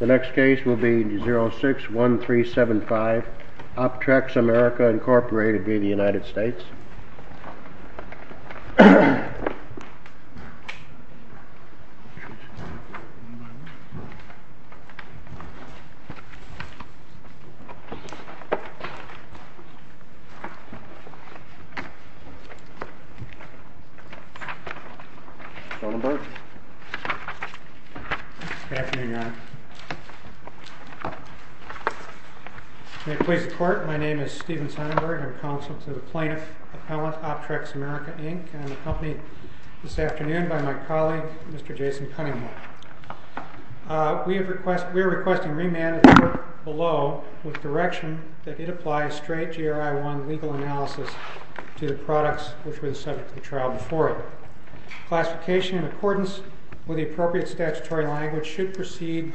The next case will be 061375 Optrex America Inc. v. United States May it please the court, my name is Steven Sonnenberg. I'm counsel to the plaintiff Appellant Optrex America Inc. and I'm accompanied this afternoon by my colleague Mr. Jason Cunningham. We are requesting remand at the court below with direction that it apply a straight GRI-1 legal analysis to the products which were the subject of the trial before it. Classification in accordance with the appropriate statutory language should proceed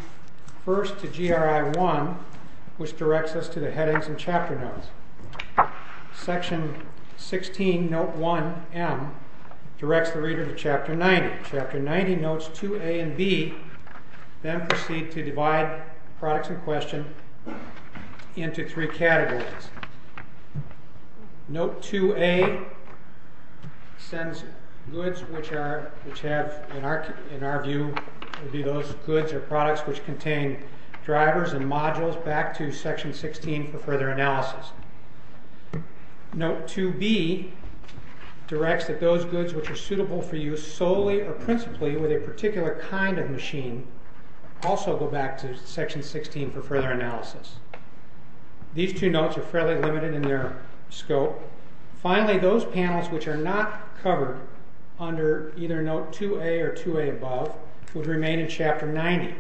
first to GRI-1 which directs us to the headings and chapter notes. Section 16 note 1m directs the reader to chapter 90. Chapter 90 notes 2a and b then proceed to divide products in question into three categories. Note 2a sends goods which in our view would be those goods or products which contain drivers and modules back to section 16 for further analysis. Note 2b directs that those goods which are suitable for use solely or principally with a particular kind of machine also go back to section 16 for further analysis. These two notes are fairly limited in their scope. Finally those panels which are not covered under either note 2a or 2a above would remain in chapter 90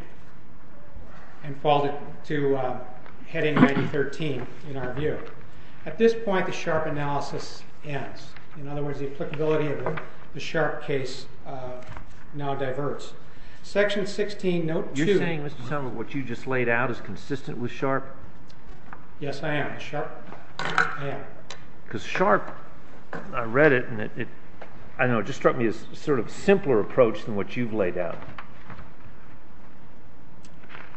and fall to heading 90.13 in our view. At this point the sharp analysis ends. In other words the applicability of the sharp case now diverts. Section 16 note 2. You're saying what you just laid out is consistent with sharp? Yes I am. Because sharp, I read it and it struck me as a simpler approach than what you've laid out.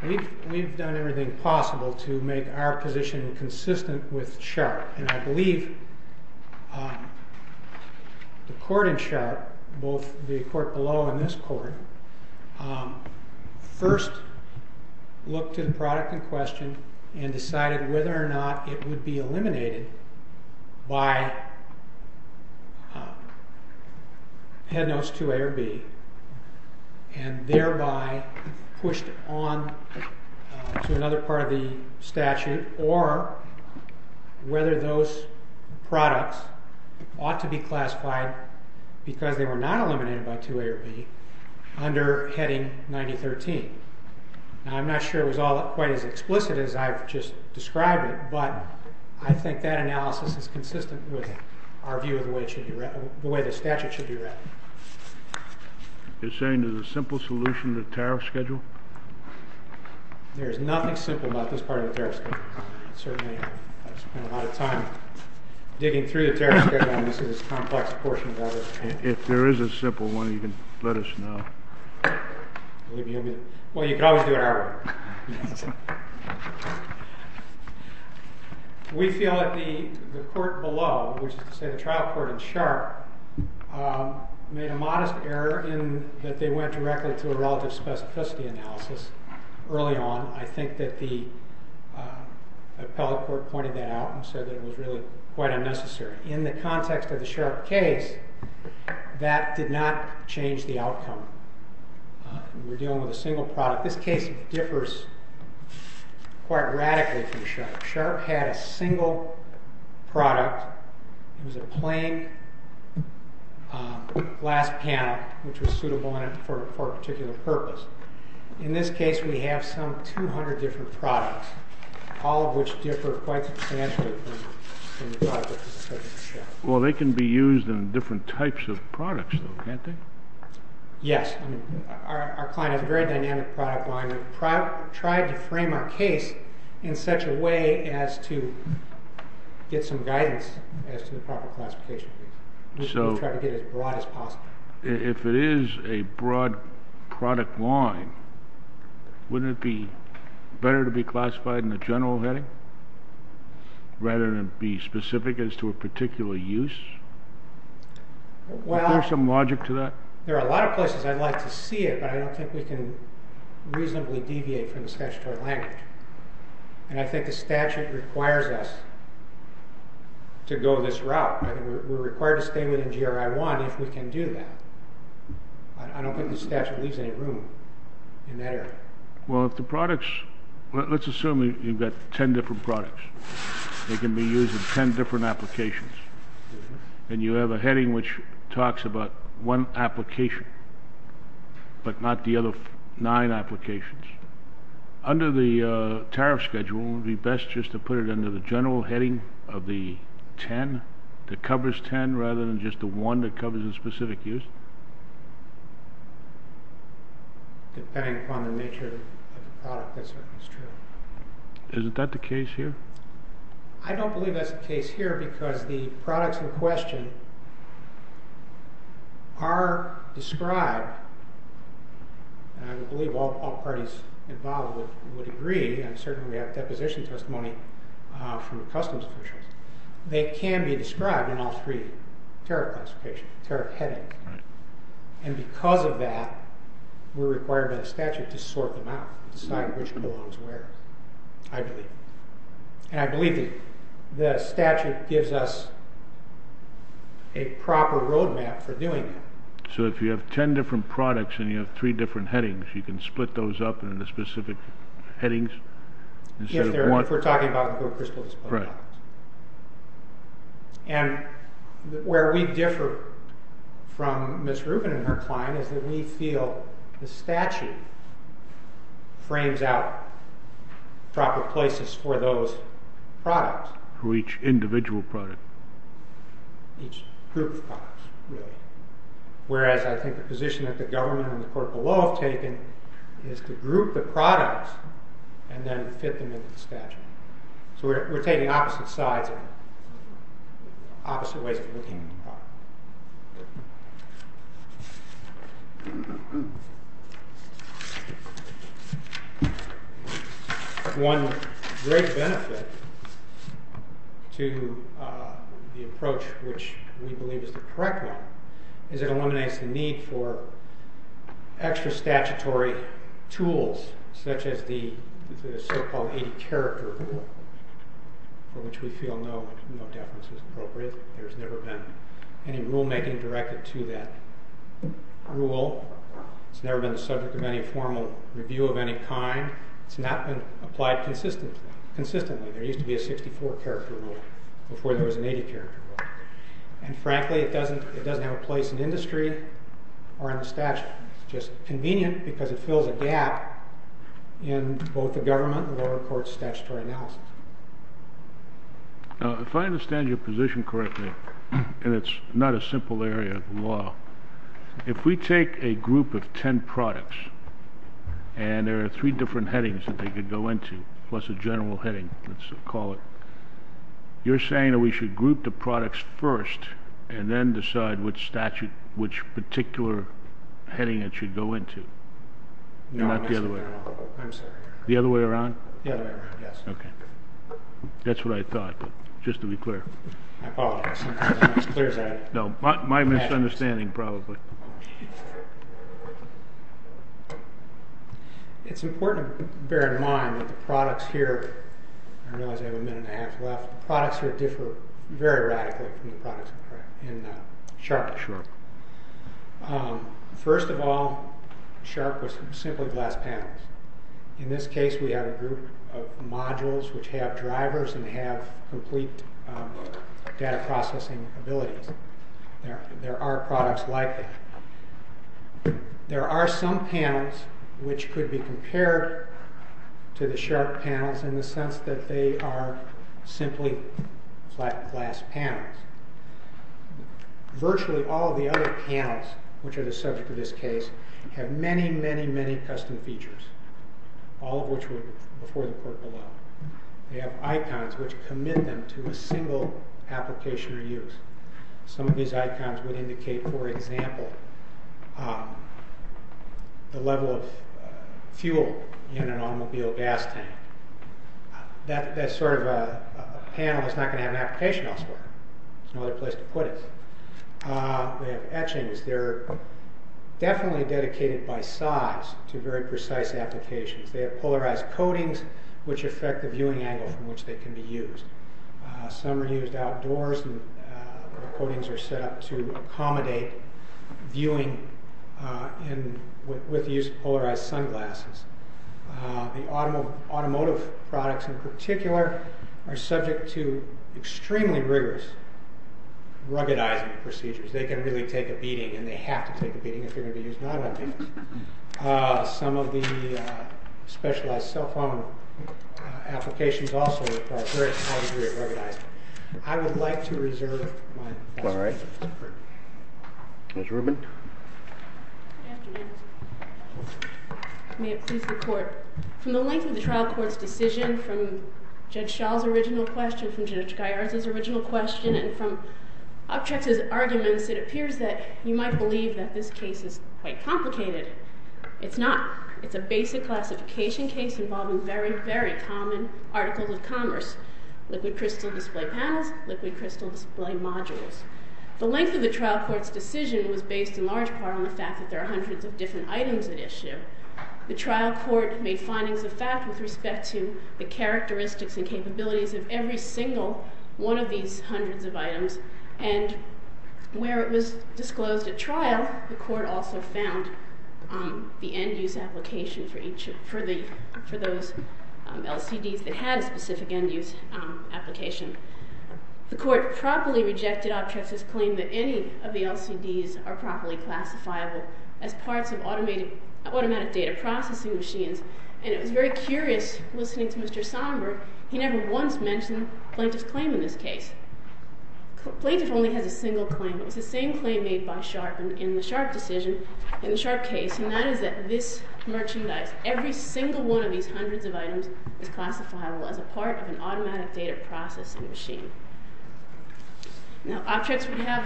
We've done everything possible to make our position consistent with sharp. I believe the court in sharp, both the court below and this court, first looked at the product in question and decided whether or not it would be eliminated by head notes 2a or b. And thereby pushed on to another part of the statute or whether those products ought to be classified because they were not eliminated by 2a or b under heading 90.13. Now I'm not sure it was all quite as explicit as I've just described it but I think that analysis is consistent with our view of the way the statute should be read. You're saying there's a simple solution to the tariff schedule? There is nothing simple about this part of the tariff schedule. Certainly I've spent a lot of time digging through the tariff schedule and this is a complex portion of it. If there is a simple one you can let us know. Well you can always do it our way. We feel that the court below, which is to say the trial court in sharp, made a modest error in that they went directly to a relative specificity analysis early on. I think that the appellate court pointed that out and said that it was really quite unnecessary. In the context of the sharp case, that did not change the outcome. We're dealing with a single product. This case differs quite radically from the sharp. Sharp had a single product. It was a plain glass panel which was suitable for a particular purpose. In this case we have some 200 different products, all of which differ quite substantially from the product of the subject of the sharp. Well they can be used in different types of products though, can't they? Yes. Our client has a very dynamic product line. We've tried to frame our case in such a way as to get some guidance as to the proper classification. We try to get it as broad as possible. If it is a broad product line, wouldn't it be better to be classified in the general heading rather than be specific as to a particular use? Is there some logic to that? There are a lot of places I'd like to see it, but I don't think we can reasonably deviate from the statutory language. I think the statute requires us to go this route. We're required to stay within GRI 1 if we can do that. I don't think the statute leaves any room in that area. Let's assume you've got 10 different products. They can be used in 10 different applications. You have a heading which talks about one application, but not the other 9 applications. Under the tariff schedule, wouldn't it be best just to put it under the general heading of the 10 that covers 10 rather than just the one that covers a specific use? Depending upon the nature of the product, that certainly is true. Isn't that the case here? I don't believe that's the case here because the products in question are described, and I believe all parties involved would agree, and certainly we have deposition testimony from the Customs Commission. They can be described in all three tariff classification, tariff heading. And because of that, we're required by the statute to sort them out, decide which belongs where, I believe. And I believe the statute gives us a proper roadmap for doing that. So if you have 10 different products and you have 3 different headings, you can split those up into specific headings? If we're talking about the gold crystal display products. And where we differ from Ms. Rubin and her client is that we feel the statute frames out proper places for those products. For each individual product? Each group of products, really. Whereas I think the position that the government and the court below have taken is to group the products and then fit them into the statute. So we're taking opposite sides, opposite ways of looking at the product. One great benefit to the approach, which we believe is the correct one, is it eliminates the need for extra statutory tools, such as the so-called 80 character rule, for which we feel no deference is appropriate. There's never been any rulemaking directed to that rule. It's never been the subject of any formal review of any kind. It's not been applied consistently. There used to be a 64 character rule before there was an 80 character rule. And frankly, it doesn't have a place in industry or in the statute. It's just convenient because it fills a gap in both the government and the lower court's statutory analysis. If I understand your position correctly, and it's not a simple area of the law, if we take a group of 10 products and there are three different headings that they could go into, plus a general heading, let's call it, you're saying that we should group the products first and then decide which particular heading it should go into, not the other way around? The other way around? The other way around, yes. Okay. That's what I thought, just to be clear. My apologies. I'm not as clear as I am. No, my misunderstanding, probably. It's important to bear in mind that the products here, I realize I have a minute and a half left, the products here differ very radically from the products in Sharp. Sharp. First of all, Sharp was simply glass panels. In this case, we have a group of modules which have drivers and have complete data processing abilities. There are products like that. There are some panels which could be compared to the Sharp panels in the sense that they are simply flat glass panels. Virtually all of the other panels, which are the subject of this case, have many, many, many custom features, all of which were before the court below. They have icons which commit them to a single application or use. Some of these icons would indicate, for example, the level of fuel in an automobile gas tank. That sort of panel is not going to have an application elsewhere. There's no other place to put it. They have etchings. They're definitely dedicated by size to very precise applications. They have polarized coatings which affect the viewing angle from which they can be used. Some are used outdoors. Coatings are set up to accommodate viewing with the use of polarized sunglasses. The automotive products, in particular, are subject to extremely rigorous ruggedizing procedures. They can really take a beating, and they have to take a beating if they're going to be used non-ruggedly. Some of the specialized cell phone applications also require a very high degree of ruggedizing. I would like to reserve my questions. All right. Ms. Rubin? Good afternoon. May it please the Court. From the length of the trial court's decision, from Judge Schall's original question, from Judge Gaillard's original question, and from Uptrex's arguments, it appears that you might believe that this case is quite complicated. It's not. It's a basic classification case involving very, very common articles of commerce, liquid crystal display panels, liquid crystal display modules. The length of the trial court's decision was based in large part on the fact that there are hundreds of different items at issue. The trial court made findings of fact with respect to the characteristics and capabilities of every single one of these hundreds of items, and where it was disclosed at trial, the court also found the end-use application for those LCDs that had a specific end-use application. The court properly rejected Uptrex's claim that any of the LCDs are properly classifiable as parts of automatic data processing machines, and it was very curious, listening to Mr. Somburg, he never once mentioned Plaintiff's claim in this case. Plaintiff only has a single claim. It was the same claim made by Sharpe in the Sharpe decision, in the Sharpe case, and that is that this merchandise, every single one of these hundreds of items, is classifiable as a part of an automatic data processing machine. Now, Uptrex would have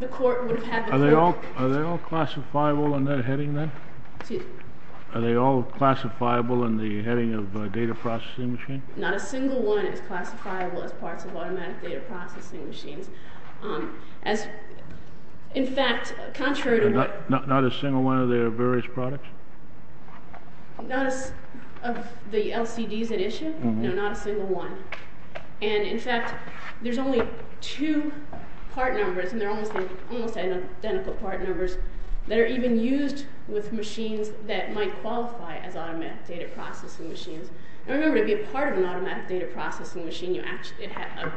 the court, would have had the court- Are they all classifiable in that heading then? Excuse me? Are they all classifiable in the heading of a data processing machine? Not a single one is classifiable as parts of automatic data processing machines. As, in fact, contrary to- Not a single one of their various products? Not as of the LCDs at issue? No, not a single one. And, in fact, there's only two part numbers, and they're almost identical part numbers, that are even used with machines that might qualify as automatic data processing machines. Now, remember, to be a part of an automatic data processing machine, an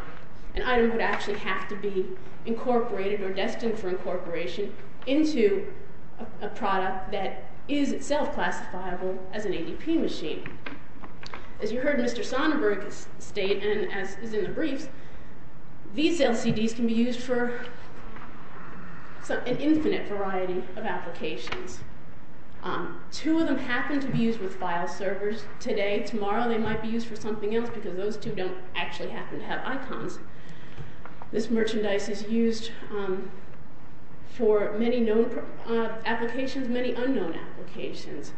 item would actually have to be incorporated, or destined for incorporation, into a product that is itself classifiable as an ADP machine. As you heard Mr. Sonnenberg state, and as is in the briefs, these LCDs can be used for an infinite variety of applications. Two of them happen to be used with file servers today. Tomorrow they might be used for something else, because those two don't actually happen to have icons. This merchandise is used for many known applications, many unknown applications.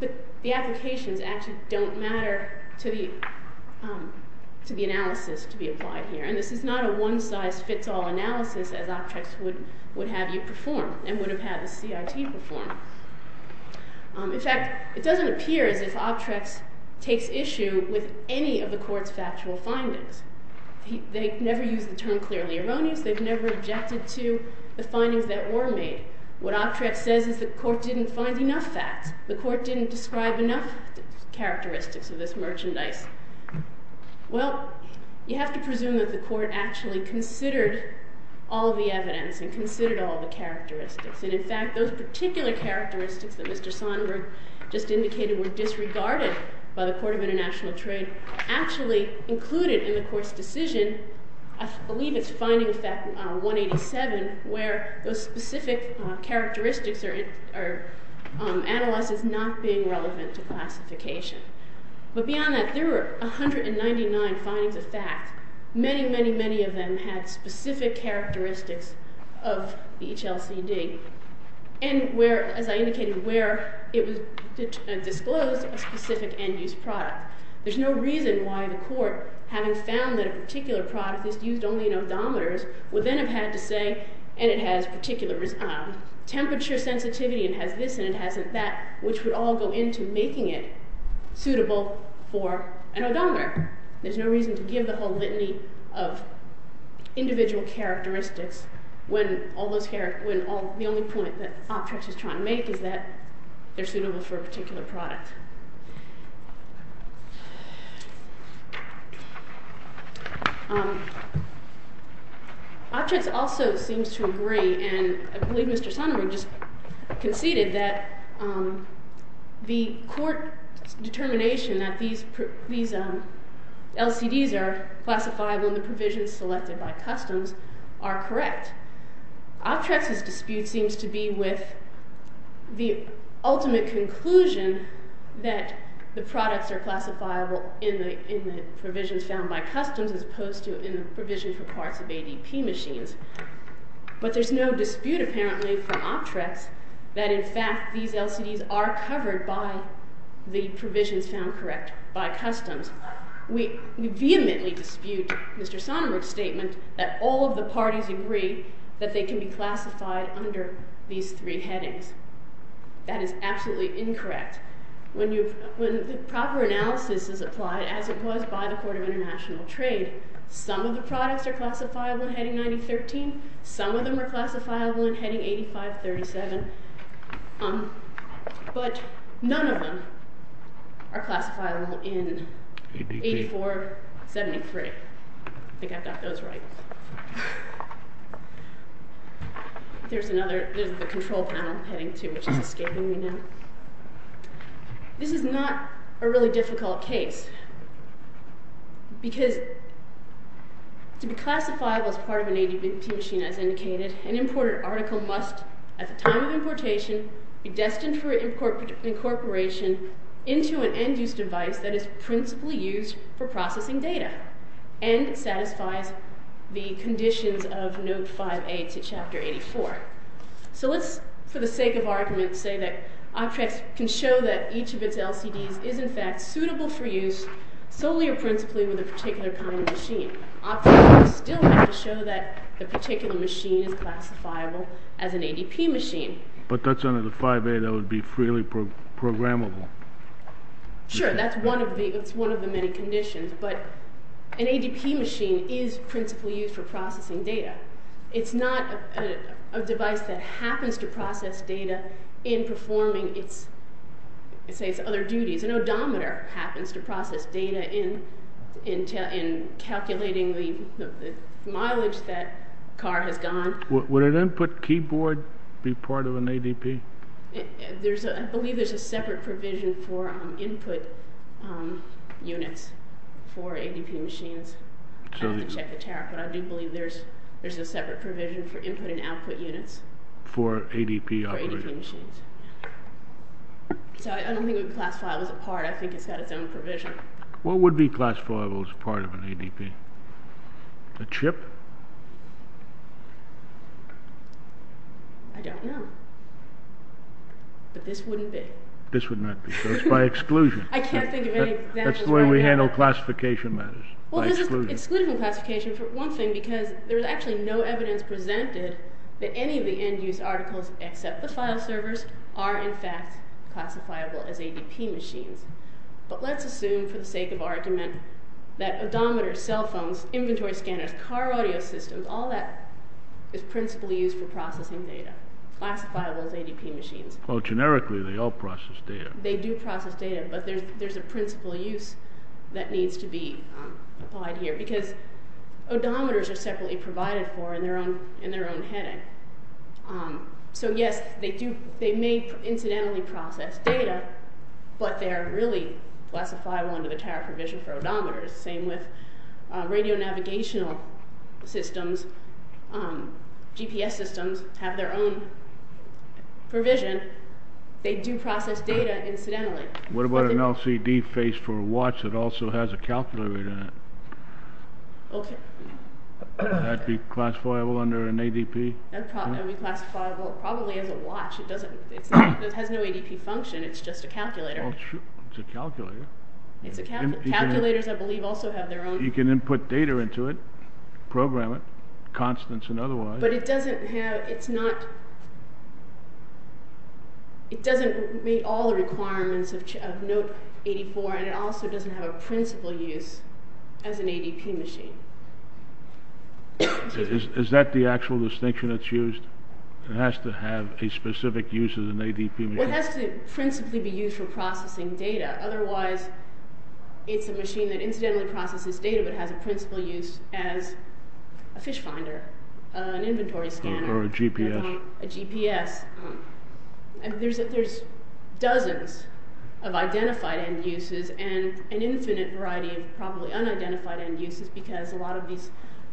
But the applications actually don't matter to the analysis to be applied here. And this is not a one-size-fits-all analysis, as Optrex would have you perform, and would have had the CIT perform. In fact, it doesn't appear as if Optrex takes issue with any of the court's factual findings. They've never used the term clearly erroneous. They've never objected to the findings that were made. What Optrex says is the court didn't find enough facts. The court didn't describe enough characteristics of this merchandise. Well, you have to presume that the court actually considered all the evidence, and considered all the characteristics. And in fact, those particular characteristics that Mr. Sonberg just indicated were disregarded by the Court of International Trade actually included in the court's decision, I believe it's finding of fact 187, where those specific characteristics are analyzed as not being relevant to classification. But beyond that, there were 199 findings of fact. Many, many, many of them had specific characteristics of the HLCD, and where, as I indicated, where it was disclosed a specific end-use product. There's no reason why the court, having found that a particular product is used only in odometers, would then have had to say, and it has particular temperature sensitivity, and has this and it has that, which would all go into making it suitable for an odometer. There's no reason to give the whole litany of individual characteristics when the only point that Optrex is trying to make is that they're suitable for a particular product. Optrex also seems to agree, and I believe Mr. Sonberg just conceded, that the court's determination that these LCDs are classifiable in the provisions selected by customs are correct. Optrex's dispute seems to be with the ultimate conclusion that the products are classifiable in the provisions found by customs as opposed to in the provisions for parts of ADP machines. But there's no dispute, apparently, from Optrex that, in fact, these LCDs are covered by the provisions found correct by customs. We vehemently dispute Mr. Sonberg's statement that all of the parties agree that they can be classified under these three headings. That is absolutely incorrect. When the proper analysis is applied, as it was by the Court of International Trade, some of the products are classifiable in heading 9013, some of them are classifiable in heading 8537, but none of them are classifiable in 8473. I think I got those right. There's the control panel heading 2, which is escaping me now. This is not a really difficult case, because to be classifiable as part of an ADP machine, as indicated, an imported article must, at the time of importation, be destined for incorporation into an end-use device that is principally used for processing data and satisfies the conditions of Note 5A to Chapter 84. So let's, for the sake of argument, say that Optrex can show that each of its LCDs is, in fact, suitable for use solely or principally with a particular kind of machine. Optrex would still have to show that the particular machine is classifiable as an ADP machine. But that's under the 5A that would be freely programmable. Sure, that's one of the many conditions, but an ADP machine is principally used for processing data. It's not a device that happens to process data in performing its other duties. An odometer happens to process data in calculating the mileage that car has gone. Would an input keyboard be part of an ADP? I believe there's a separate provision for input units for ADP machines. I'd have to check the tariff, but I do believe there's a separate provision for input and output units. For ADP operations. So I don't think it would be classifiable as a part. I think it's got its own provision. What would be classifiable as part of an ADP? A chip? I don't know. But this wouldn't be. This would not be. So it's by exclusion. I can't think of any examples right now. That's the way we handle classification matters, by exclusion. Well, this is exclusion classification for one thing, because there's actually no evidence presented that any of the end-use articles, except the file servers, are in fact classifiable as ADP machines. But let's assume, for the sake of argument, that odometers, cell phones, inventory scanners, car audio systems, all that is principally used for processing data. Classifiable as ADP machines. Well, generically, they all process data. They do process data, but there's a principal use that needs to be applied here. Because odometers are separately provided for in their own heading. So, yes, they may incidentally process data, but they're really classifiable under the tariff provision for odometers. Same with radio-navigational systems. GPS systems have their own provision. They do process data incidentally. What about an LCD face for a watch that also has a calculator in it? Okay. Would that be classifiable under an ADP? That would be classifiable probably as a watch. It has no ADP function. It's just a calculator. It's a calculator. Calculators, I believe, also have their own... You can input data into it, program it, constants and otherwise. But it doesn't have... It doesn't meet all the requirements of Note 84, and it also doesn't have a principal use as an ADP machine. Is that the actual distinction that's used? It has to have a specific use as an ADP machine? It has to principally be used for processing data. Otherwise, it's a machine that incidentally processes data, but has a principal use as a fish finder, an inventory scanner. Or a GPS. A GPS. There's dozens of identified end uses and an infinite variety of probably unidentified end uses because a lot of these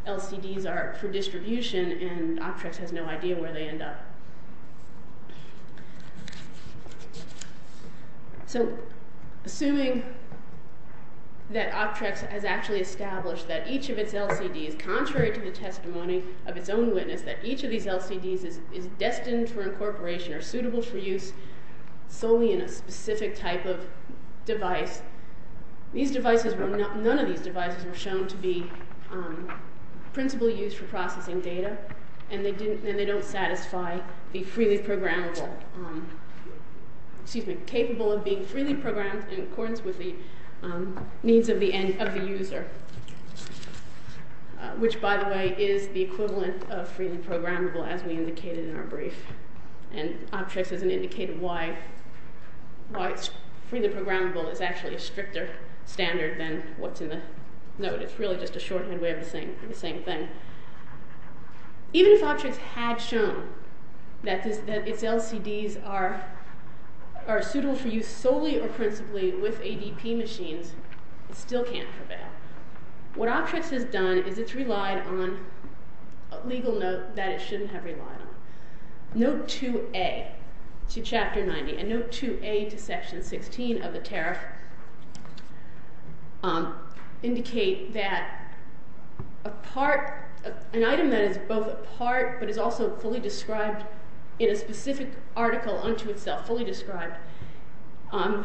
LCDs are for distribution, and Optrex has no idea where they end up. So, assuming that Optrex has actually established that each of its LCDs, contrary to the testimony of its own witness, that each of these LCDs is destined for incorporation or suitable for use solely in a specific type of device, none of these devices were shown to be principal use for processing data, and they don't satisfy the freely programmable, excuse me, capable of being freely programmed in accordance with the needs of the user. Which, by the way, is the equivalent of freely programmable as we indicated in our brief. And Optrex doesn't indicate why freely programmable is actually a stricter standard than what's in the note. It's really just a shorthand way of saying the same thing. Even if Optrex had shown that its LCDs are suitable for use solely or principally with ADP machines, it still can't prevail. What Optrex has done is it's relied on a legal note that it shouldn't have relied on. Note 2A to Chapter 90 and Note 2A to Section 16 of the tariff indicate that an item that is both a part but is also fully described in a specific article unto itself, fully described,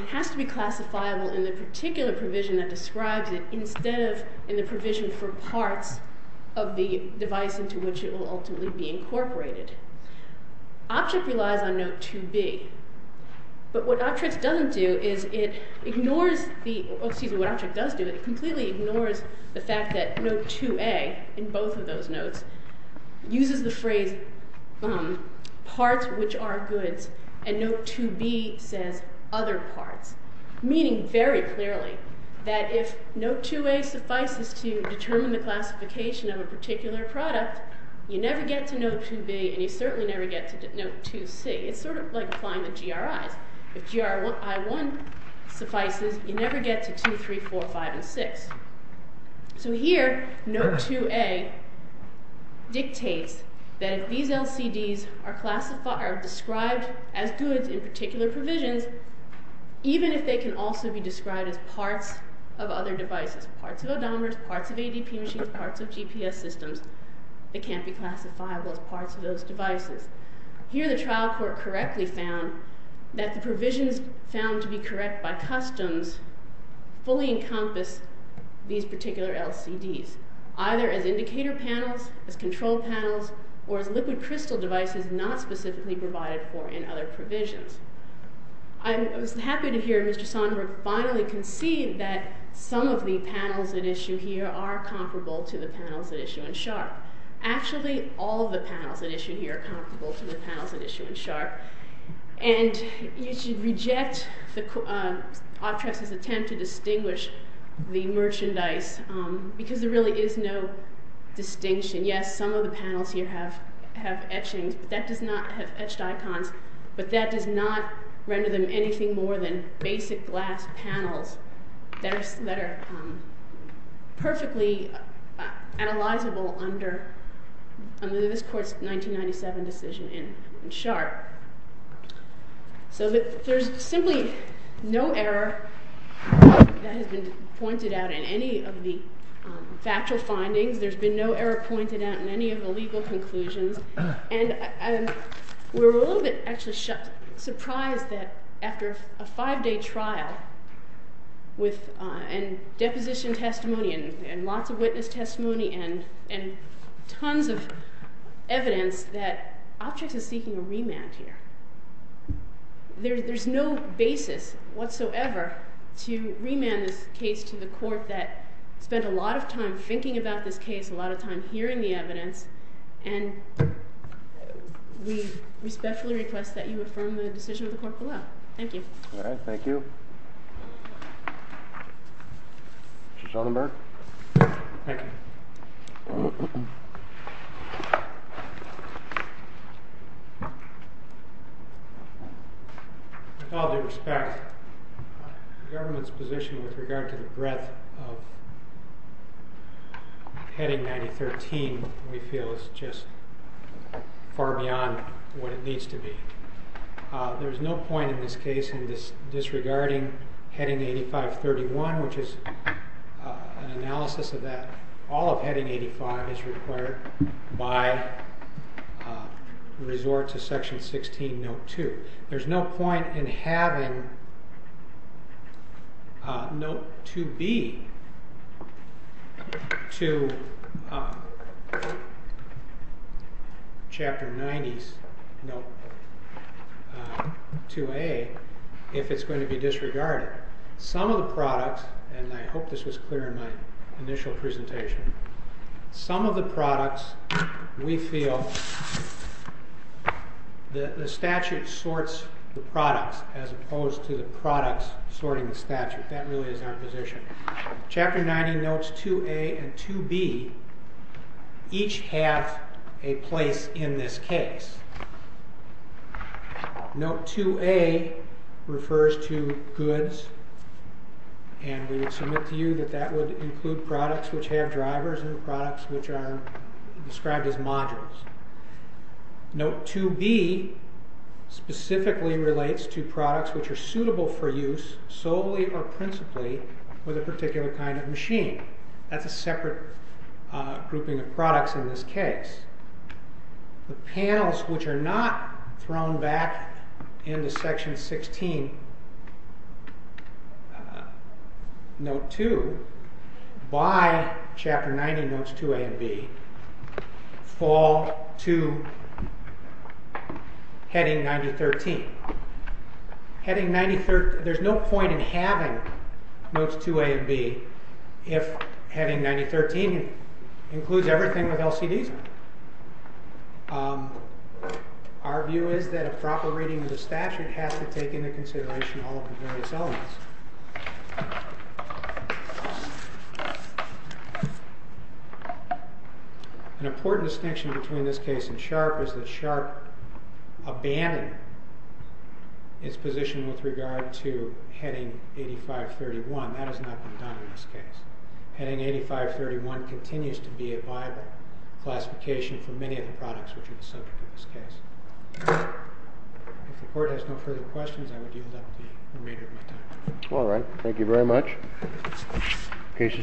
has to be classifiable in the particular provision that describes it instead of in the provision for parts of the device into which it will ultimately be incorporated. Optrex relies on Note 2B, but what Optrex doesn't do is it completely ignores the fact that Note 2A, in both of those notes, uses the phrase, parts which are goods, and Note 2B says other parts, meaning very clearly that if Note 2A suffices to determine the classification of a particular product, you never get to Note 2B and you certainly never get to Note 2C. It's sort of like applying the GRIs. If GRI1 suffices, you never get to 2, 3, 4, 5, and 6. So here, Note 2A dictates that if these LCDs are described as goods in particular provisions, even if they can also be described as parts of other devices, parts of odometers, parts of ADP machines, parts of GPS systems, they can't be classifiable as parts of those devices. Here, the trial court correctly found that the provisions found to be correct by customs fully encompass these particular LCDs, either as indicator panels, as control panels, or as liquid crystal devices not specifically provided for in other provisions. I was happy to hear Mr. Sondberg finally concede that some of the panels at issue here are comparable to the panels at issue in Sharp. Actually, all of the panels at issue here are comparable to the panels at issue in Sharp. And you should reject Optrex's attempt to distinguish the merchandise because there really is no distinction. Yes, some of the panels here have etchings, but that does not have etched icons, but that does not render them anything more than basic glass panels that are perfectly analyzable under this court's 1997 decision in Sharp. So there's simply no error that has been pointed out in any of the factual findings. There's been no error pointed out in any of the legal conclusions. And we're a little bit actually surprised that after a five-day trial and deposition testimony and lots of witness testimony and tons of evidence that Optrex is seeking a remand here. There's no basis whatsoever to remand this case to the court that spent a lot of time thinking about this case, a lot of time hearing the evidence, and we respectfully request that you affirm the decision of the court below. Thank you. All right, thank you. Mr. Schellenberg. Thank you. With all due respect, the government's position with regard to the breadth of Heading 9013 we feel is just far beyond what it needs to be. There's no point in this case in disregarding Heading 8531, which is an analysis of that. All of Heading 85 is required by resort to Section 16, Note 2. There's no point in having Note 2B to Chapter 90's Note 2A if it's going to be disregarded. Some of the products, and I hope this was clear in my initial presentation, some of the products we feel the statute sorts the products as opposed to the products sorting the statute. That really is our position. Chapter 90 Notes 2A and 2B each have a place in this case. Note 2A refers to goods, and we would submit to you that that would include products which have drivers and products which are described as modules. Note 2B specifically relates to products which are suitable for use solely or principally with a particular kind of machine. That's a separate grouping of products in this case. The panels which are not thrown back into Section 16, Note 2, by Chapter 90 Notes 2A and 2B fall to Heading 9013. There's no point in having Notes 2A and 2B if Heading 9013 includes everything with LCDs. Our view is that a proper reading of the statute has to take into consideration all of the various elements. An important distinction between this case and SHARP is that SHARP abandoned its position with regard to Heading 8531. That has not been done in this case. Heading 8531 continues to be a viable classification for many of the products which are the subject of this case. If the Court has no further questions, I would yield up the remainder of my time. All right. Thank you very much. Case is submitted.